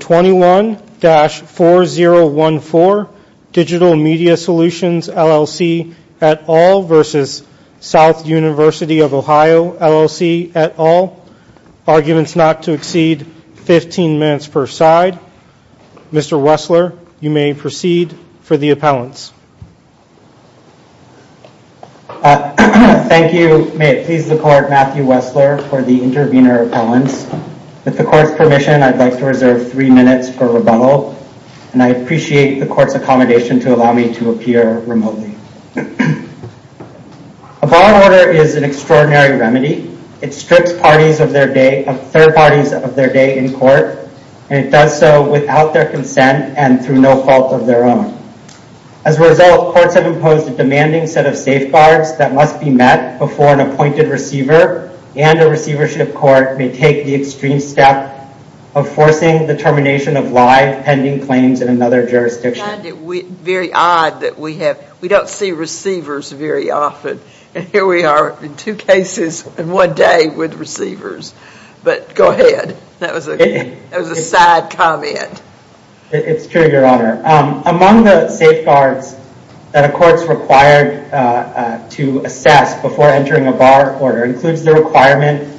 21-4014 Digital Media Solutions, LLC, et al. v. South University of Ohio, LLC, et al. Arguments not to exceed 15 minutes per side. Mr. Wessler, you may proceed for the appellants. Thank you. May it please the Court, Matthew Wessler for the intervener appellants. With the Court's permission, I'd like to reserve three minutes for rebuttal, and I appreciate the Court's accommodation to allow me to appear remotely. A bar order is an extraordinary remedy. It strips parties of their day, third parties of their day in court, and it does so without their consent and through no fault of their own. As a result, courts have imposed a demanding set of safeguards that must be met before an appointed receiver and a receivership court may take the extreme step of forcing the termination of live pending claims in another jurisdiction. I find it very odd that we don't see receivers very often, and here we are in two cases in one day with receivers. But go ahead. That was a sad comment. It's true, Your Honor. Among the safeguards that a court's required to assess before entering a bar order includes the requirement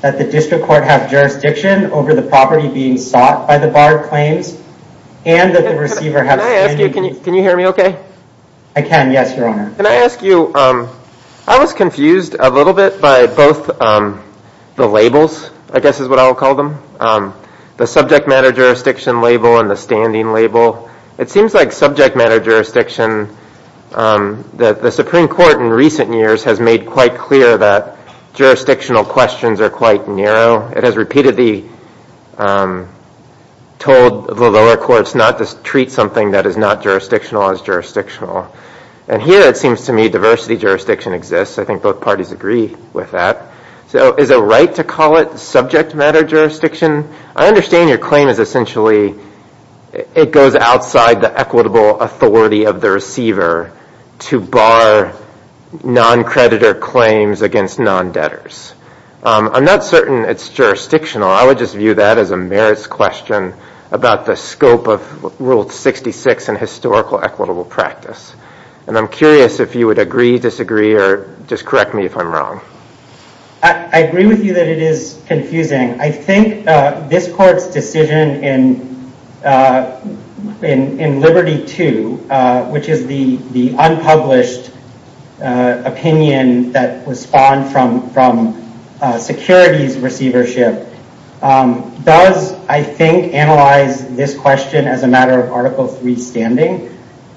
that the district court have jurisdiction over the property being sought by the bar claims and that the receiver have standing... Can I ask you, can you hear me okay? I can, yes, Your Honor. Can I ask you, I was confused a little bit by both the labels, I guess is what I'll call them, the subject matter jurisdiction label and the standing label. It seems like subject matter jurisdiction that the Supreme Court in recent years has made quite clear that jurisdictional questions are quite narrow. It has repeatedly told the lower courts not to treat something that is not jurisdictional as jurisdictional. And here it seems to me diversity jurisdiction exists. I think both parties agree with that. So is it right to call it subject matter jurisdiction? I understand your claim is essentially it goes outside the equitable authority of the receiver to bar non-creditor claims against non-debtors. I'm not certain it's jurisdictional. I would just view that as a merits question about the scope of Rule 66 and historical equitable practice. And I'm curious if you would agree, disagree, or just correct me if I'm wrong. I agree with you that it is confusing. I think this court's decision in Liberty II, which is the unpublished opinion that was spawned from securities receivership, does, I think, analyze this question as a matter of Article III standing.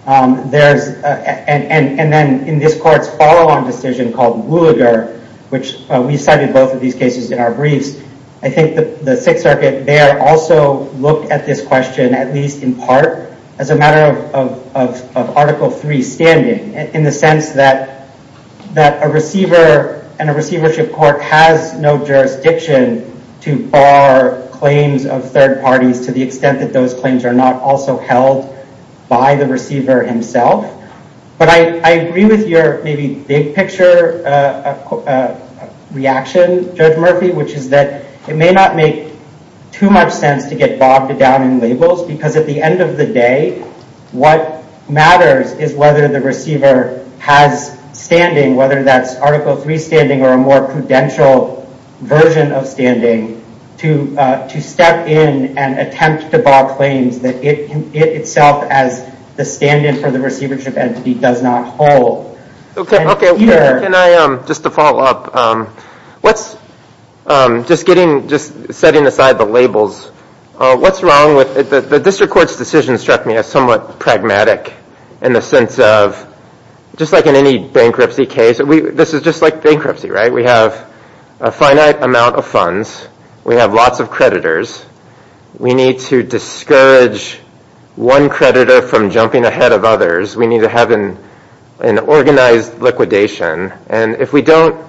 And then in this court's follow-on decision called Luliger, which we cited both of these cases in our briefs, I think the Sixth Circuit there also looked at this question, at least in part, as a matter of Article III standing, in the sense that a receiver and a receivership court has no jurisdiction to bar claims of third parties to the extent that those claims are not also held by the receiver himself. But I agree with your maybe big-picture reaction, Judge Murphy, which is that it may not make too much sense to get bogged down in labels, because at the end of the day, what matters is whether the receiver has standing, whether that's Article III standing or a more prudential version of standing, to step in and attempt to bar claims that it itself as the stand-in for the receivership entity does not hold. Just to follow up, just setting aside the labels, what's wrong with... The district court's decision struck me as somewhat pragmatic in the sense of, just like in any bankruptcy case, this is just like bankruptcy, right? We have a finite amount of funds. We have lots of creditors. We need to discourage one creditor from jumping ahead of others. We need to have an organized liquidation. And if we don't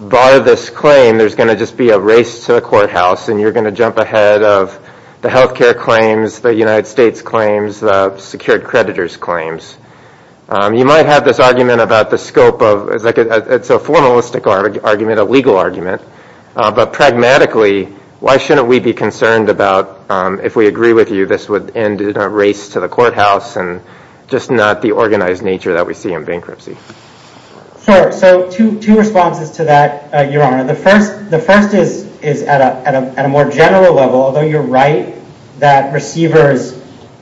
bar this claim, there's going to just be a race to the courthouse, and you're going to jump ahead of the health care claims, the United States claims, the secured creditors' claims. You might have this argument about the scope of... It's a formalistic argument, a legal argument. But pragmatically, why shouldn't we be concerned about, if we agree with you, this would end in a race to the courthouse and just not the organized nature that we see in bankruptcy? Sure. So two responses to that, Your Honor. The first is at a more general level, although you're right that receivers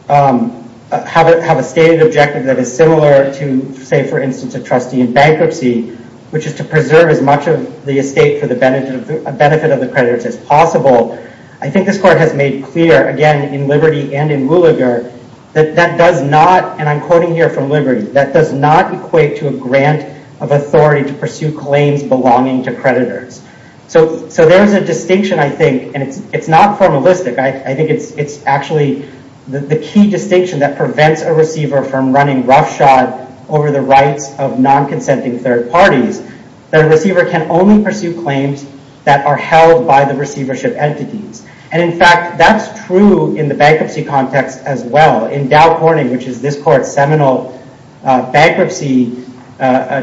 have a stated objective that is similar to, say, for instance, a trustee in bankruptcy, which is to preserve as much of the estate for the benefit of the creditors as possible. I think this court has made clear, again, in Liberty and in Williger, that that does not, and I'm quoting here from Liberty, that does not equate to a grant of authority to pursue claims belonging to creditors. So there is a distinction, I think, and it's not formalistic. I think it's actually the key distinction that prevents a receiver from running roughshod over the rights of non-consenting third parties, that a receiver can only pursue claims that are held by the receivership entities. And in fact, that's true in the bankruptcy context as well. In Dow Corning, which is this court's seminal bankruptcy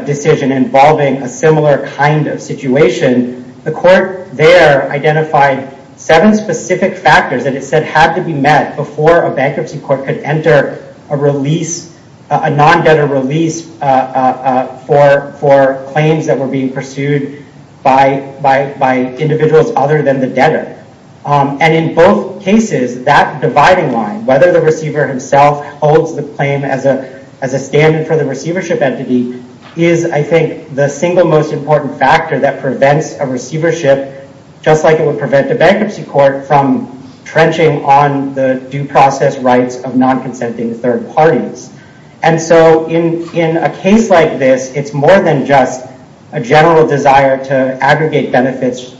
decision involving a similar kind of situation, the court there identified seven specific factors that it said had to be met before a bankruptcy court could enter a non-debtor release for claims that were being pursued by individuals other than the debtor. And in both cases, that dividing line, whether the receiver himself holds the claim as a standard for the receivership entity, is, I think, the single most important factor that prevents a receivership, just like it would prevent a bankruptcy court, from trenching on the due process rights of non-consenting third parties. And so in a case like this, it's more than just a general desire to aggregate assets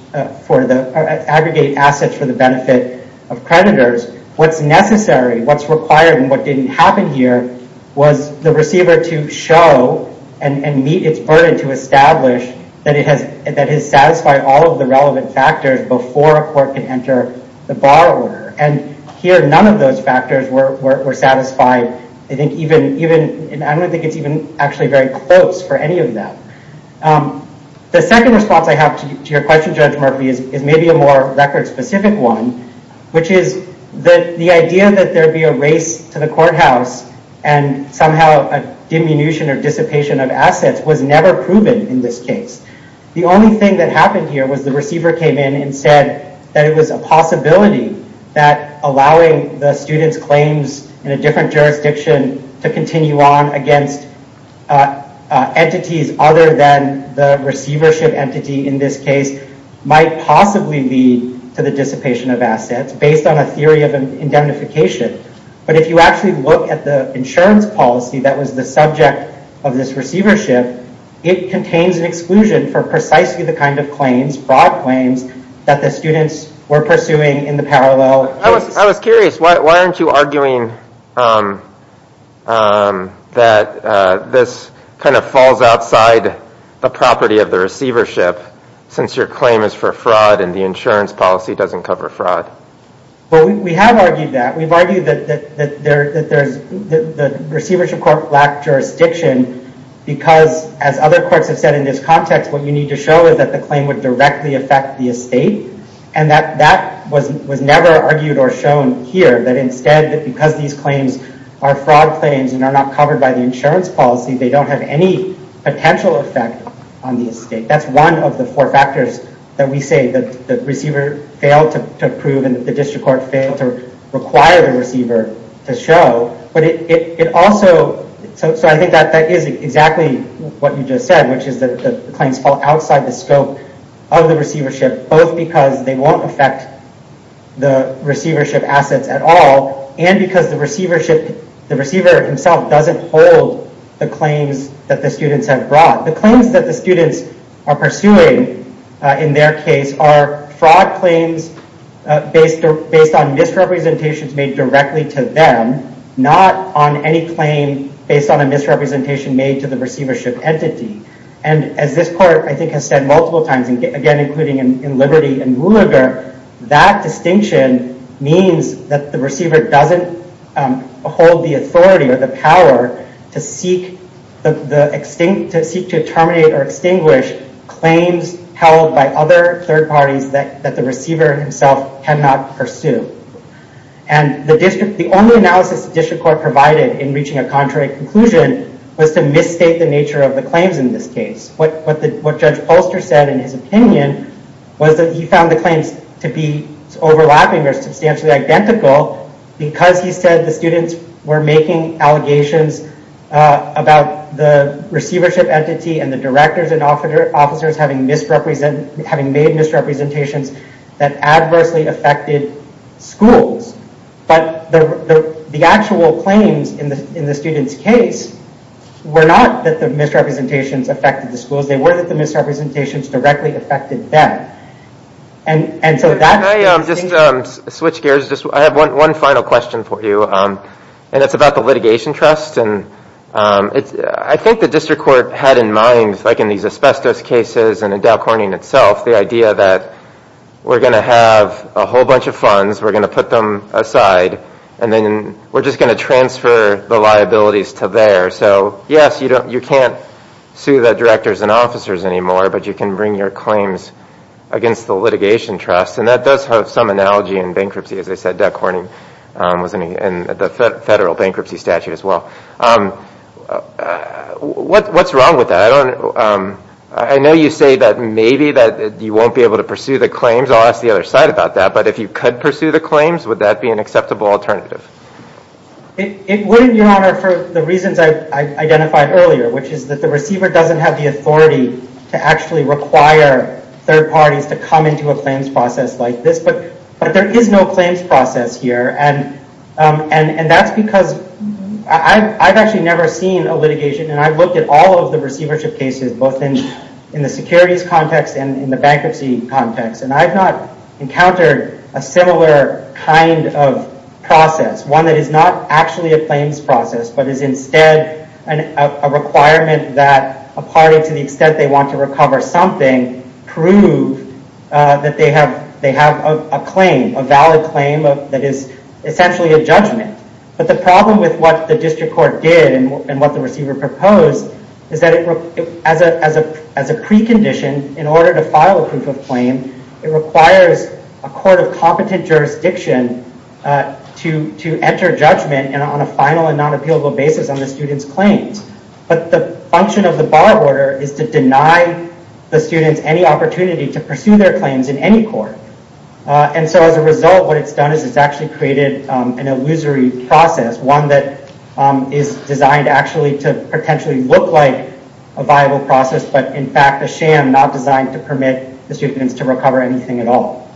for the benefit of creditors. What's necessary, what's required, and what didn't happen here was the receiver to show and meet its burden to establish that it has satisfied all of the relevant factors before a court can enter the bar order. And here, none of those factors were satisfied. I don't think it's even actually very close for any of them. The second response I have to your question, Judge Murphy, is maybe a more record-specific one, which is the idea that there'd be a race to the courthouse and somehow a diminution or dissipation of assets was never proven in this case. The only thing that happened here was the receiver came in and said that it was a possibility that allowing the student's claims in a different jurisdiction to continue on against entities other than the receivership entity in this case might possibly lead to the dissipation of assets based on a theory of indemnification. But if you actually look at the insurance policy that was the subject of this receivership, it contains an exclusion for precisely the kind of claims, fraud claims, that the students were pursuing in the parallel. I was curious, why aren't you arguing that this kind of falls outside the property of the receivership since your claim is for fraud and the insurance policy doesn't cover fraud? Well, we have argued that. We've argued that the receivership court lacked jurisdiction because, as other courts have said in this context, what you need to show is that the claim would directly affect the estate. And that was never argued or shown here. But instead, because these claims are fraud claims and are not covered by the insurance policy, they don't have any potential effect on the estate. That's one of the four factors that we say the receiver failed to prove and the district court failed to require the receiver to show. So I think that is exactly what you just said, which is that the claims fall outside the scope of the receivership, both because they won't affect the receivership assets at all and because the receiver himself doesn't hold the claims that the students have brought. The claims that the students are pursuing in their case are fraud claims based on misrepresentations made directly to them, not on any claim based on a misrepresentation made to the receivership entity. And as this court, I think, has said multiple times, again, including in Liberty and Rueger, that distinction means that the receiver doesn't hold the authority or the power to seek to terminate or extinguish claims held by other third parties that the receiver himself cannot pursue. And the only analysis the district court provided in reaching a contrary conclusion was to misstate the nature of the claims in this case. What Judge Polster said in his opinion was that he found the claims to be overlapping or substantially identical because he said the students were making allegations about the receivership entity and the directors and officers having made misrepresentations that adversely affected schools. But the actual claims in the student's case were not that the misrepresentations affected the schools. They were that the misrepresentations directly affected them. And so that's the distinction. Can I just switch gears? I have one final question for you. And it's about the litigation trust. And I think the district court had in mind, like in these asbestos cases and in Dow Corning itself, the idea that we're going to have a whole bunch of funds, we're going to put them aside, and then we're just going to transfer the liabilities to there. So yes, you can't sue the directors and officers anymore, but you can bring your claims against the litigation trust. And that does have some analogy in bankruptcy, as I said. Dow Corning was in the federal bankruptcy statute as well. What's wrong with that? I know you say that maybe you won't be able to pursue the claims. I'll ask the other side about that. But if you could pursue the claims, would that be an acceptable alternative? It wouldn't, Your Honor, for the reasons I identified earlier, which is that the receiver doesn't have the authority to actually require third parties to come into a claims process like this. But there is no claims process here. And that's because I've actually never seen a litigation, and I've looked at all of the receivership cases, both in the securities context and in the bankruptcy context. And I've not encountered a similar kind of process, one that is not actually a claims process, but is instead a requirement that a party, to the extent they want to recover something, prove that they have a claim, a valid claim that is essentially a judgment. But the problem with what the district court did and what the receiver proposed is that as a precondition, in order to file a proof of claim, it requires a court of competent jurisdiction to enter judgment on a final and non-appealable basis on the student's claims. But the function of the bar order is to deny the students any opportunity to pursue their claims in any court. And so as a result, what it's done is it's actually created an illusory process, one that is designed actually to potentially look like a viable process, but in fact a sham not designed to permit the students to recover anything at all.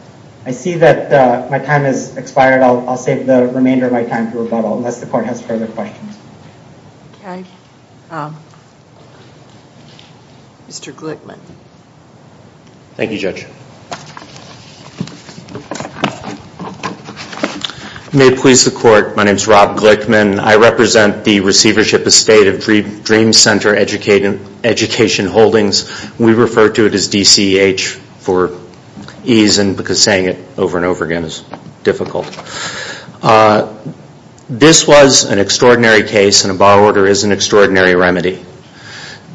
I see that my time has expired. I'll save the remainder of my time for rebuttal, unless the court has further questions. Okay. Mr. Glickman. Thank you, Judge. May it please the court, my name is Rob Glickman. I represent the receivership estate of Dream Center Education Holdings. We refer to it as DCEH for ease, because saying it over and over again is difficult. This was an extraordinary case and a bar order is an extraordinary remedy.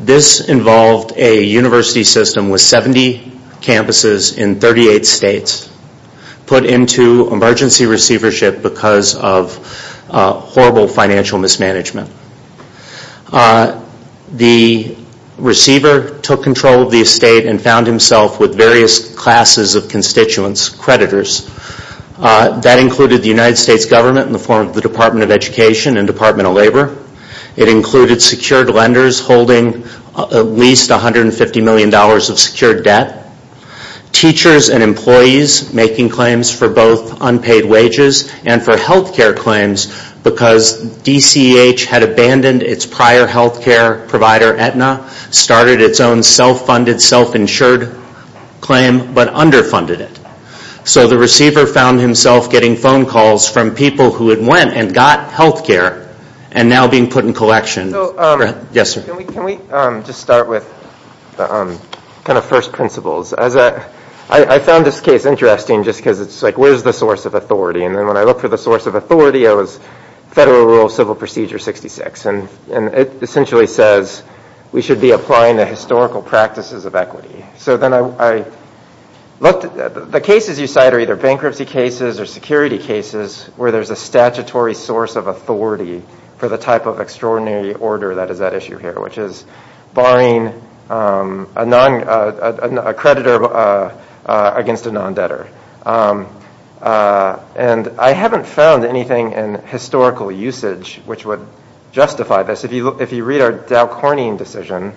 This involved a university system with 70 campuses in 38 states put into emergency receivership because of horrible financial mismanagement. The receiver took control of the estate and found himself with various classes of constituents, creditors. That included the United States government in the form of the Department of Education and Department of Labor. It included secured lenders holding at least $150 million of secured debt. Teachers and employees making claims for both unpaid wages and for health care claims because DCEH had abandoned its prior health care provider, Aetna, started its own self-funded, self-insured claim, but underfunded it. So the receiver found himself getting phone calls from people who had went and got health care and now being put in collection. Can we just start with kind of first principles? I found this case interesting just because it's like, where's the source of authority? And then when I looked for the source of authority, it was Federal Rule of Civil Procedure 66. And it essentially says we should be applying the historical practices of equity. The cases you cite are either bankruptcy cases or security cases where there's a statutory source of authority for the type of extraordinary order that is at issue here, which is barring a creditor against a non-debtor. And I haven't found anything in historical usage which would justify this. If you read our Dow Corning decision,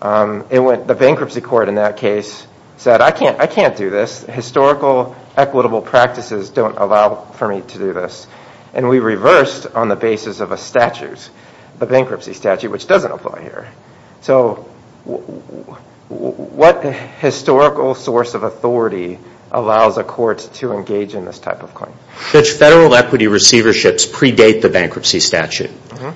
the bankruptcy court in that case said, I can't do this. Historical equitable practices don't allow for me to do this. And we reversed on the basis of a statute, the bankruptcy statute, which doesn't apply here. So what historical source of authority allows a court to engage in this type of claim? Federal equity receiverships predate the bankruptcy statute.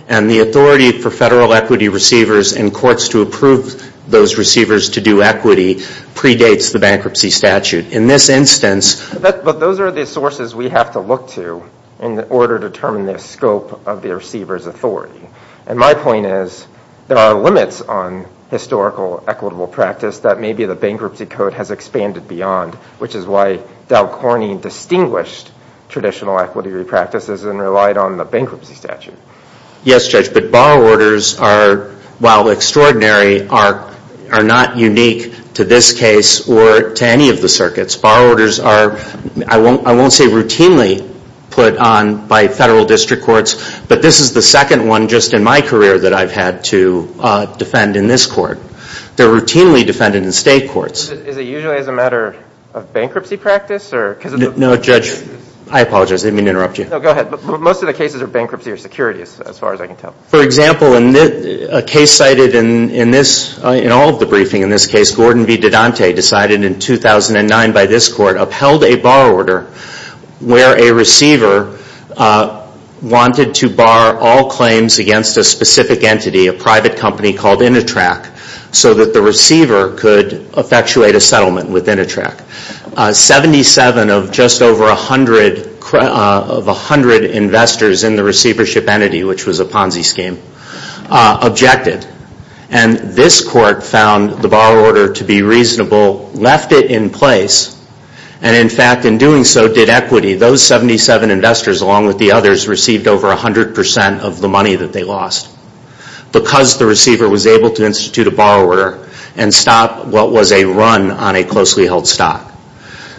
And the authority for federal equity receivers and courts to approve those receivers to do equity predates the bankruptcy statute. In this instance... But those are the sources we have to look to in order to determine the scope of the receiver's authority. And my point is there are limits on historical equitable practice that maybe the bankruptcy code has expanded beyond, which is why Dow Corning distinguished traditional equity practices and relied on the bankruptcy statute. Yes, Judge, but bar orders are, while extraordinary, are not unique to this case or to any of the circuits. Bar orders are, I won't say routinely put on by federal district courts, but this is the second one just in my career that I've had to defend in this court. They're routinely defended in state courts. Is it usually as a matter of bankruptcy practice? No, Judge, I apologize. I didn't mean to interrupt you. Most of the cases are bankruptcy or securities, as far as I can tell. For example, a case cited in all of the briefing in this case, Gordon V. Dedante decided in 2009 by this court, upheld a bar order where a receiver wanted to bar all claims against a specific entity, a private company called Initrac, so that the receiver could effectuate a settlement with Initrac. Seventy-seven of just over 100 investors in the receivership entity, which was a Ponzi scheme, objected. And this court found the bar order to be reasonable, left it in place, and in fact, in doing so, did equity. Those 77 investors, along with the others, received over 100% of the money that they lost, because the receiver was able to institute a bar order and stop what was a run on a closely held stock.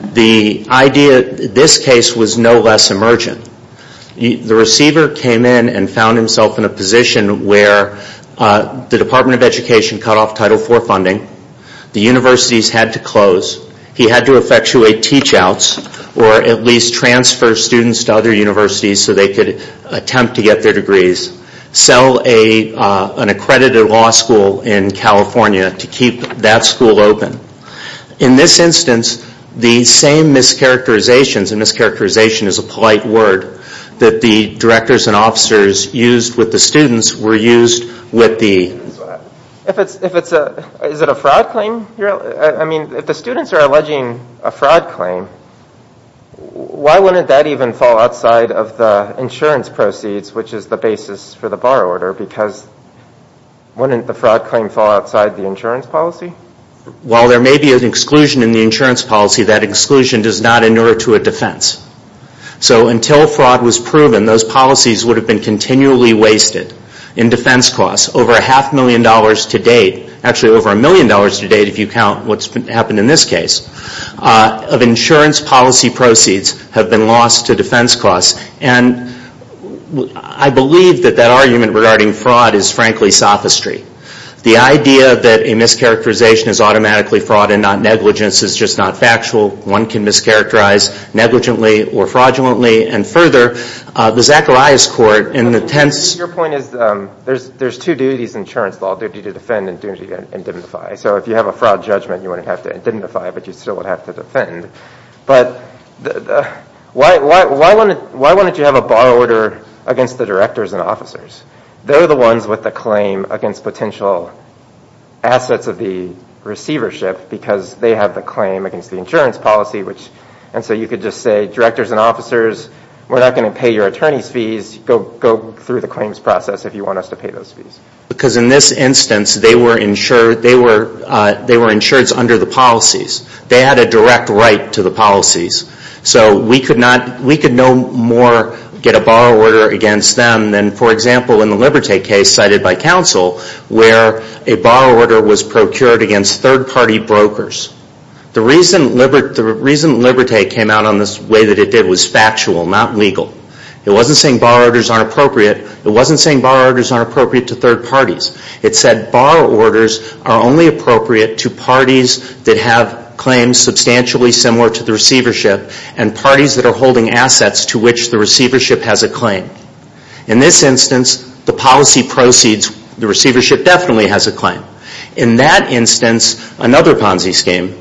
This case was no less emergent. The receiver came in and found himself in a position where the Department of Education cut off Title IV funding. The universities had to close. He had to effectuate teach-outs, or at least transfer students to other universities so they could attempt to get their degrees. Sell an accredited law school in California to keep that school open. In this instance, the same mischaracterizations, and mischaracterization is a polite word, that the directors and officers used with the students were used with the... Is it a fraud claim? If the students are alleging a fraud claim, why wouldn't that even fall outside of the insurance proceeds, which is the basis for the bar order, because wouldn't the fraud claim fall outside the insurance policy? While there may be an exclusion in the insurance policy, that exclusion does not inure to a defense. So until fraud was proven, those policies would have been continually wasted in defense costs. Over a half million dollars to date, actually over a million dollars to date if you count what's happened in this case, of insurance policy proceeds have been lost to defense costs. And I believe that that argument regarding fraud is frankly sophistry. The idea that a mischaracterization is automatically fraud and not negligence is just not factual. One can mischaracterize negligently or fraudulently. And further, the Zacharias court in the tense... Your point is there's two duties in insurance law, duty to defend and duty to indemnify. So if you have a fraud judgment, you wouldn't have to indemnify, but you still would have to defend. But why wouldn't you have a bar order against the directors and officers? They're the ones with the claim against potential assets of the receivership, because they have the claim against the insurance policy. And so you could just say, directors and officers, we're not going to pay your attorney's fees. Go through the claims process if you want us to pay those fees. Because in this instance, they were insured under the policies. They had a direct right to the policies. So we could no more get a bar order against them than, for example, in the Liberté case cited by counsel, where a bar order was procured against third party brokers. The reason Liberté came out on this way that it did was factual, not legal. It wasn't saying bar orders aren't appropriate. It wasn't saying bar orders aren't appropriate to third parties. It said bar orders are only appropriate to parties that have claims substantially similar to the receivership and parties that are holding assets to which the receivership has a claim. In this instance, the policy proceeds, the receivership definitely has a claim. In that instance, another Ponzi scheme,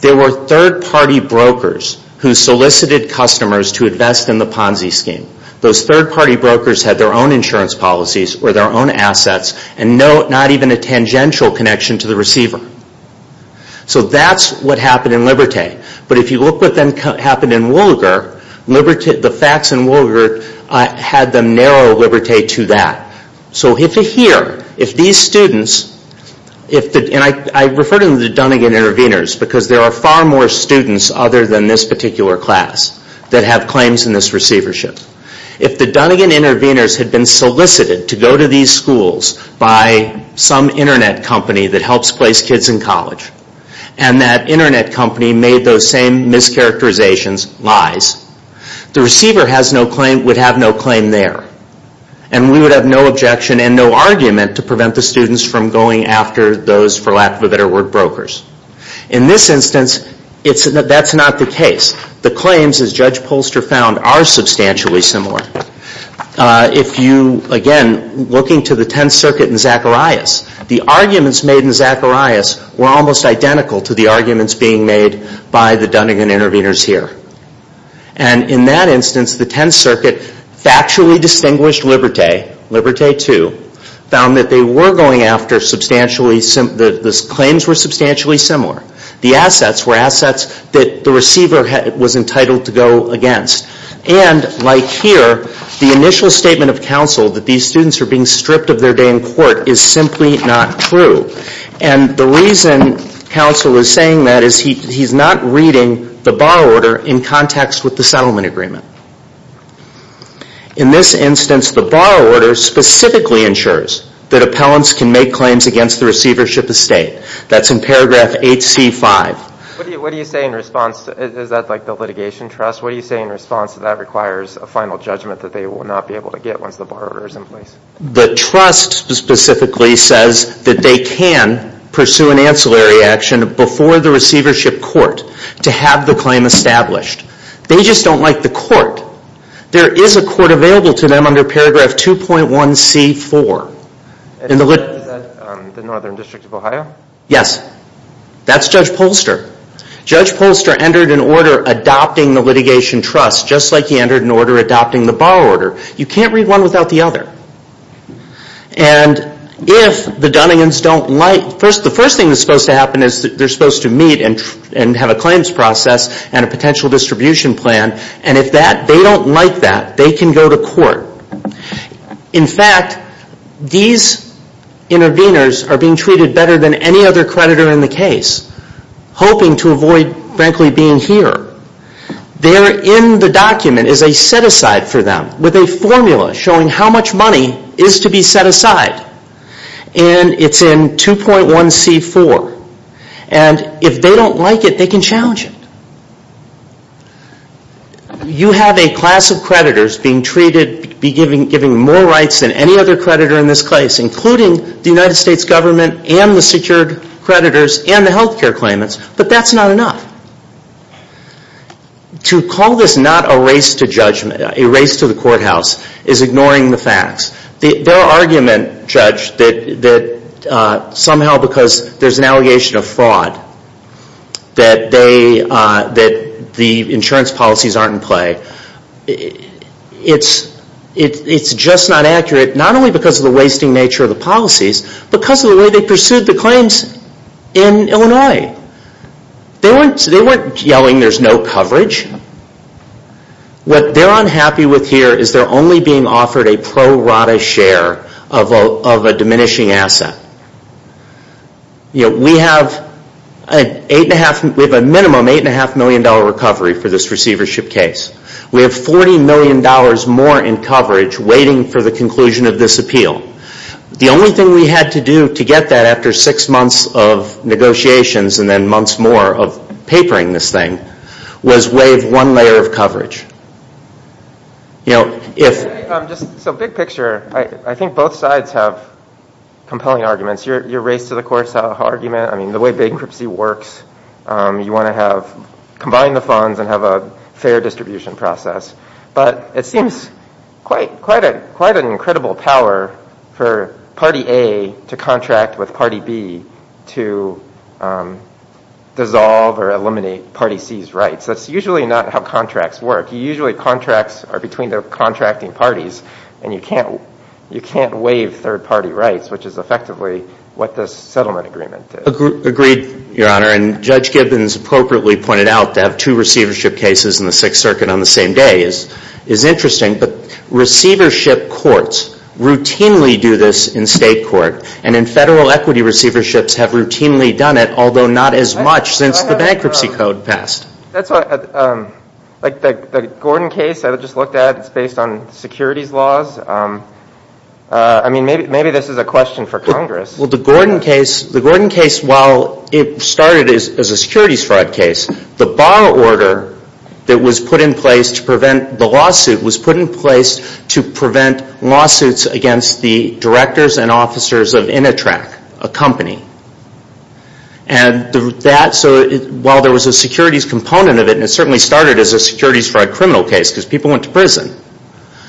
there were third party brokers who solicited customers to invest in the Ponzi scheme. Those third party brokers had their own insurance policies or their own assets and not even a tangential connection to the receiver. So that's what happened in Liberté. But if you look what happened in Wolliger, the facts in Wolliger had them narrow Liberté to that. So if you hear, if these students, and I refer to them as the Dunnegan intervenors because there are far more students other than this particular class that have claims in this receivership. If the Dunnegan intervenors had been solicited to go to these schools by some internet company that helps place kids in college and that internet company made those same mischaracterizations, lies, the receiver would have no claim there. And we would have no objection and no argument to prevent the students from going after those, for lack of a better word, brokers. In this instance, that's not the case. The claims, as Judge Polster found, are substantially similar. If you, again, looking to the Tenth Circuit in Zacharias, the arguments made in Zacharias were almost identical. And in that instance, the Tenth Circuit factually distinguished Liberté, Liberté II, found that they were going after substantially, the claims were substantially similar. The assets were assets that the receiver was entitled to go against. And like here, the initial statement of counsel that these students are being stripped of their day in court is simply not true. And the reason counsel is saying that is he's not reading the bar order in context with the settlement agreement. In this instance, the bar order specifically ensures that appellants can make claims against the receivership estate. That's in paragraph 8C.5. What do you say in response, is that like the litigation trust, what do you say in response to that requires a final judgment that they will not be able to get once the bar order is in place? The trust specifically says that they can pursue an ancillary action before the receivership court to have the claim established. They just don't like the court. There is a court available to them under paragraph 2.1C.4. Is that the Northern District of Ohio? Yes. That's Judge Polster. Judge Polster entered an order adopting the litigation trust, just like he entered an order adopting the bar order. You can't read one without the other. And if the Dunningans don't like, the first thing that's supposed to happen is they're supposed to meet and have a claims process and a potential distribution plan. And if they don't like that, they can go to court. In fact, these interveners are being treated better than any other creditor in the case, hoping to avoid, frankly, being here. There in the document is a set-aside for them with a formula showing how much money is to be set aside. And it's in 2.1C.4. And if they don't like it, they can challenge it. You have a class of creditors being treated, being given more rights than any other creditors and the health care claimants, but that's not enough. To call this not a race to judgment, a race to the courthouse, is ignoring the facts. Their argument, Judge, that somehow because there's an allegation of fraud that the insurance policies aren't in play, it's just not in Illinois. They weren't yelling there's no coverage. What they're unhappy with here is they're only being offered a pro-rata share of a diminishing asset. We have a minimum $8.5 million recovery for this receivership case. We have $40 million more in coverage waiting for the receivership case. We have $1.5 million more in coverage waiting for the receivership case. We have $1.5 million more in coverage waiting for the receivership case. But it seems quite an incredible power for Party A to contract with Party B to dissolve or eliminate Party C's rights. That's usually not how contracts work. Usually contracts are between the contracting parties, and you can't waive third party rights, which is effectively what this settlement agreement did. Agreed, Your Honor, and Judge Gibbons appropriately pointed out to have two receivership cases in the Sixth Circuit on the same day is interesting, but receivership courts routinely do this in state court, and in federal equity receiverships have routinely done it, although not as much since the bankruptcy code passed. The Gordon case I just looked at, it's based on securities laws. I mean, maybe this is a question for Congress. Well, the Gordon case, while it started as a securities fraud case, the bar order that was put in place to prevent the lawsuit was put in place to prevent lawsuits against the directors and officers of Initrac, a company. And while there was a securities component of it, and it certainly started as a securities fraud criminal case because people went to prison.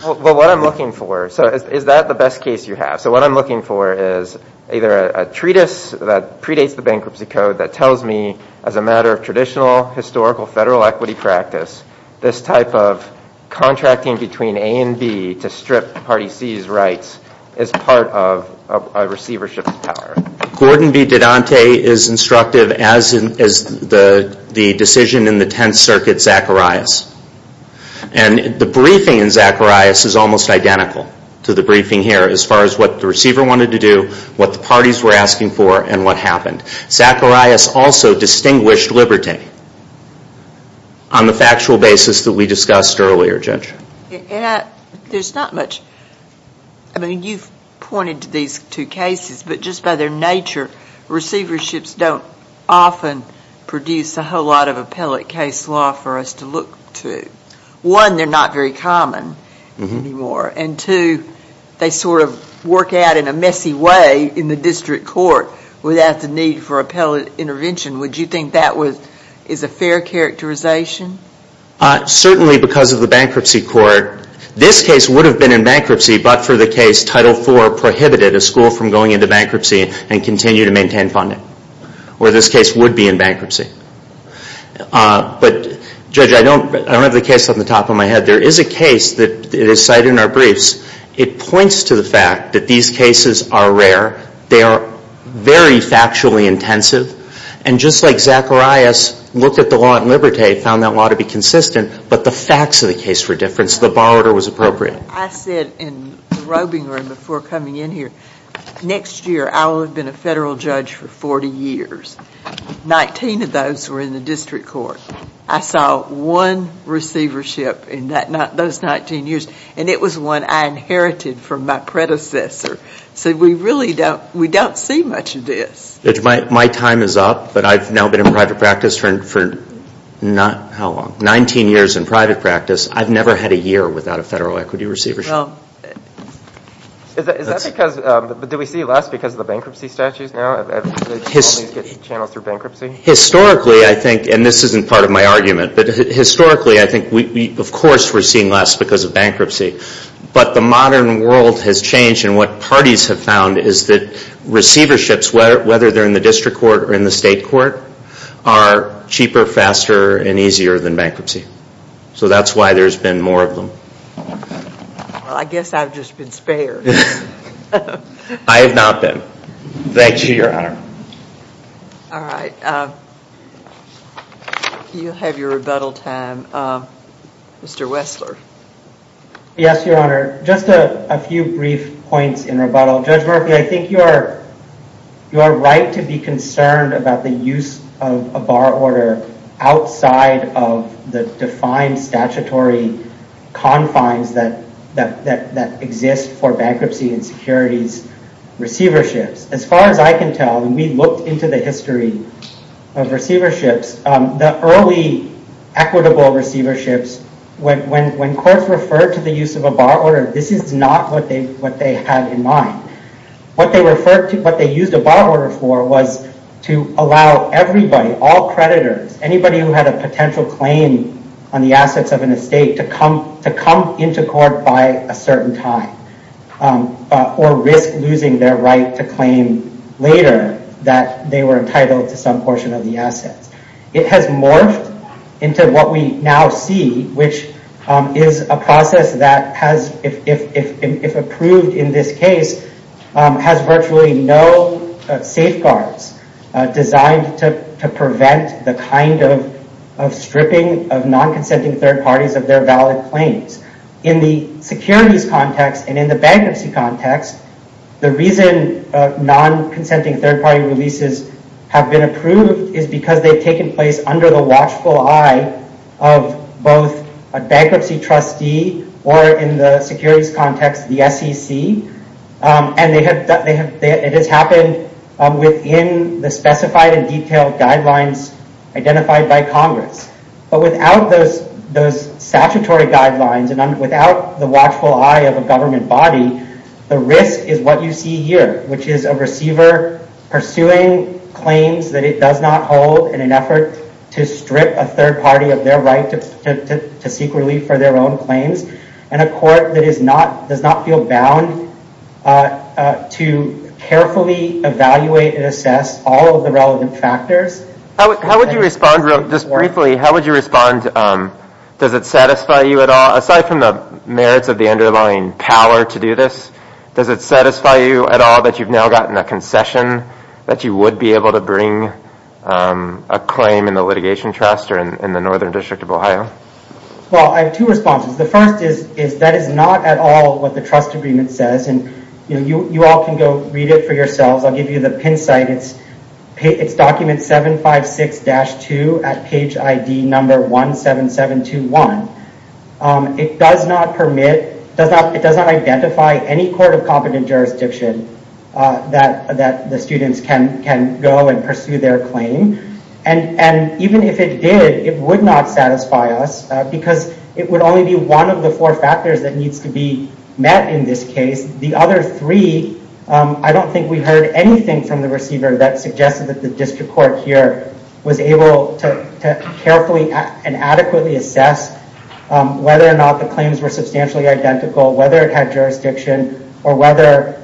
So is that the best case you have? So what I'm looking for is either a treatise that predates the bankruptcy code that tells me as a matter of traditional historical federal equity practice, this type of contracting between A and B to strip Party C's rights is part of a receivership power. Gordon V. Dedante is instructive as the decision in the Tenth Circuit Zacharias. And the briefing in Zacharias is almost identical to the briefing here as far as what the receiver wanted to do, what the parties were asking for, and what happened. Zacharias also distinguished liberty And there's not much. I mean, you've pointed to these two cases, but just by their nature, receiverships don't often produce a whole lot of appellate case law for us to look to. One, they're not very common anymore. And two, they sort of work out in a messy way in the district court without the need for appellate intervention. Would you think that is a fair characterization? Certainly because of the bankruptcy court. This case would have been in bankruptcy, but for the case Title IV prohibited a school from going into bankruptcy and continue to maintain funding. Or this case would be in bankruptcy. But Judge, I don't have the case on the top of my head. There is a case that is cited in our briefs. It points to the fact that these cases are rare. They are very factually intensive. And just like Zacharias looked at the law at Liberté, found that law to be consistent, but the facts of the case were different, so the borrower was appropriate. I said in the roving room before coming in here, next year I will have been a federal judge for 40 years. 19 of those were in the district court. I saw one receivership in those 19 years. I said we really don't see much of this. My time is up, but I have now been in private practice for 19 years. I have never had a year without a federal equity receivership. Do we see less because of the bankruptcy statutes now? Historically I think, and this isn't part of my argument, but historically I think of course we are seeing less because of bankruptcy. But the modern world has changed and what parties have found is that receiverships, whether they are in the district court or in the state court, are cheaper, faster, and easier than bankruptcy. So that is why there has been more of them. I have not been. Thank you, Your Honor. You have your rebuttal time. Mr. Wessler. Yes, Your Honor. Just a few brief points in rebuttal. Judge Murphy, I think you are right to be concerned about the use of a borrower outside of the defined statutory confines that exist for bankruptcy and securities receiverships. As far as I can tell, and we looked into the history of receiverships, the early equitable receiverships, when courts referred to the use of a borrower, this is not what they had in mind. What they used a borrower for was to allow everybody, all creditors, anybody who had a potential claim on the assets of an estate to come into court by a certain time or risk losing their right to claim later that they were entitled to some portion of the assets. It has morphed into what we now see, which is a process that has, if approved in this case, has virtually no safeguards designed to prevent the kind of stripping of non-consenting third parties of their valid claims. In the securities context and in the bankruptcy context, the reason non-consenting third party releases have been approved is because they've taken place under the watchful eye of both a bankruptcy trustee or in the securities context, the SEC. It has happened within the specified and detailed guidelines identified by Congress, but without those statutory guidelines and without the watchful eye of a government body, the risk is what you see here, which is a receiver pursuing claims that it does not hold in an effort to strip a third party of their right to seek relief for their own claims in a court that does not feel bound to carefully evaluate and assess all of the relevant factors. Just briefly, how would you respond? Does it satisfy you at all? Aside from the merits of the underlying power to do this, does it satisfy you at all that you've a claim in the litigation trust or in the Northern District of Ohio? I have two responses. The first is that is not at all what the trust agreement says. You all can go read it for yourselves. I'll give you the pin site. It's document 756-2 at page ID number 17721. It does not permit, it does not identify any court of competent jurisdiction that the students can go and pursue their claim. And even if it did, it would not satisfy us because it would only be one of the four factors that needs to be met in this case. The other three, I don't think we heard anything from the receiver that suggested that the district court here was able to carefully and adequately assess whether or not the claims were substantially identical, whether it had jurisdiction, or whether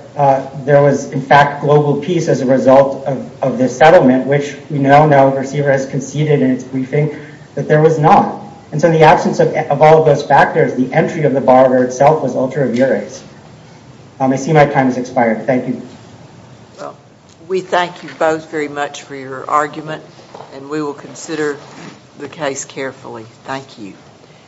there was, in fact, global peace as a result of this settlement, which we now know the receiver has conceded in its briefing that there was not. And so in the absence of all of those factors, the entry of the borrower itself was ultra viris. I see my time has expired. Thank you. We thank you both very much for your time.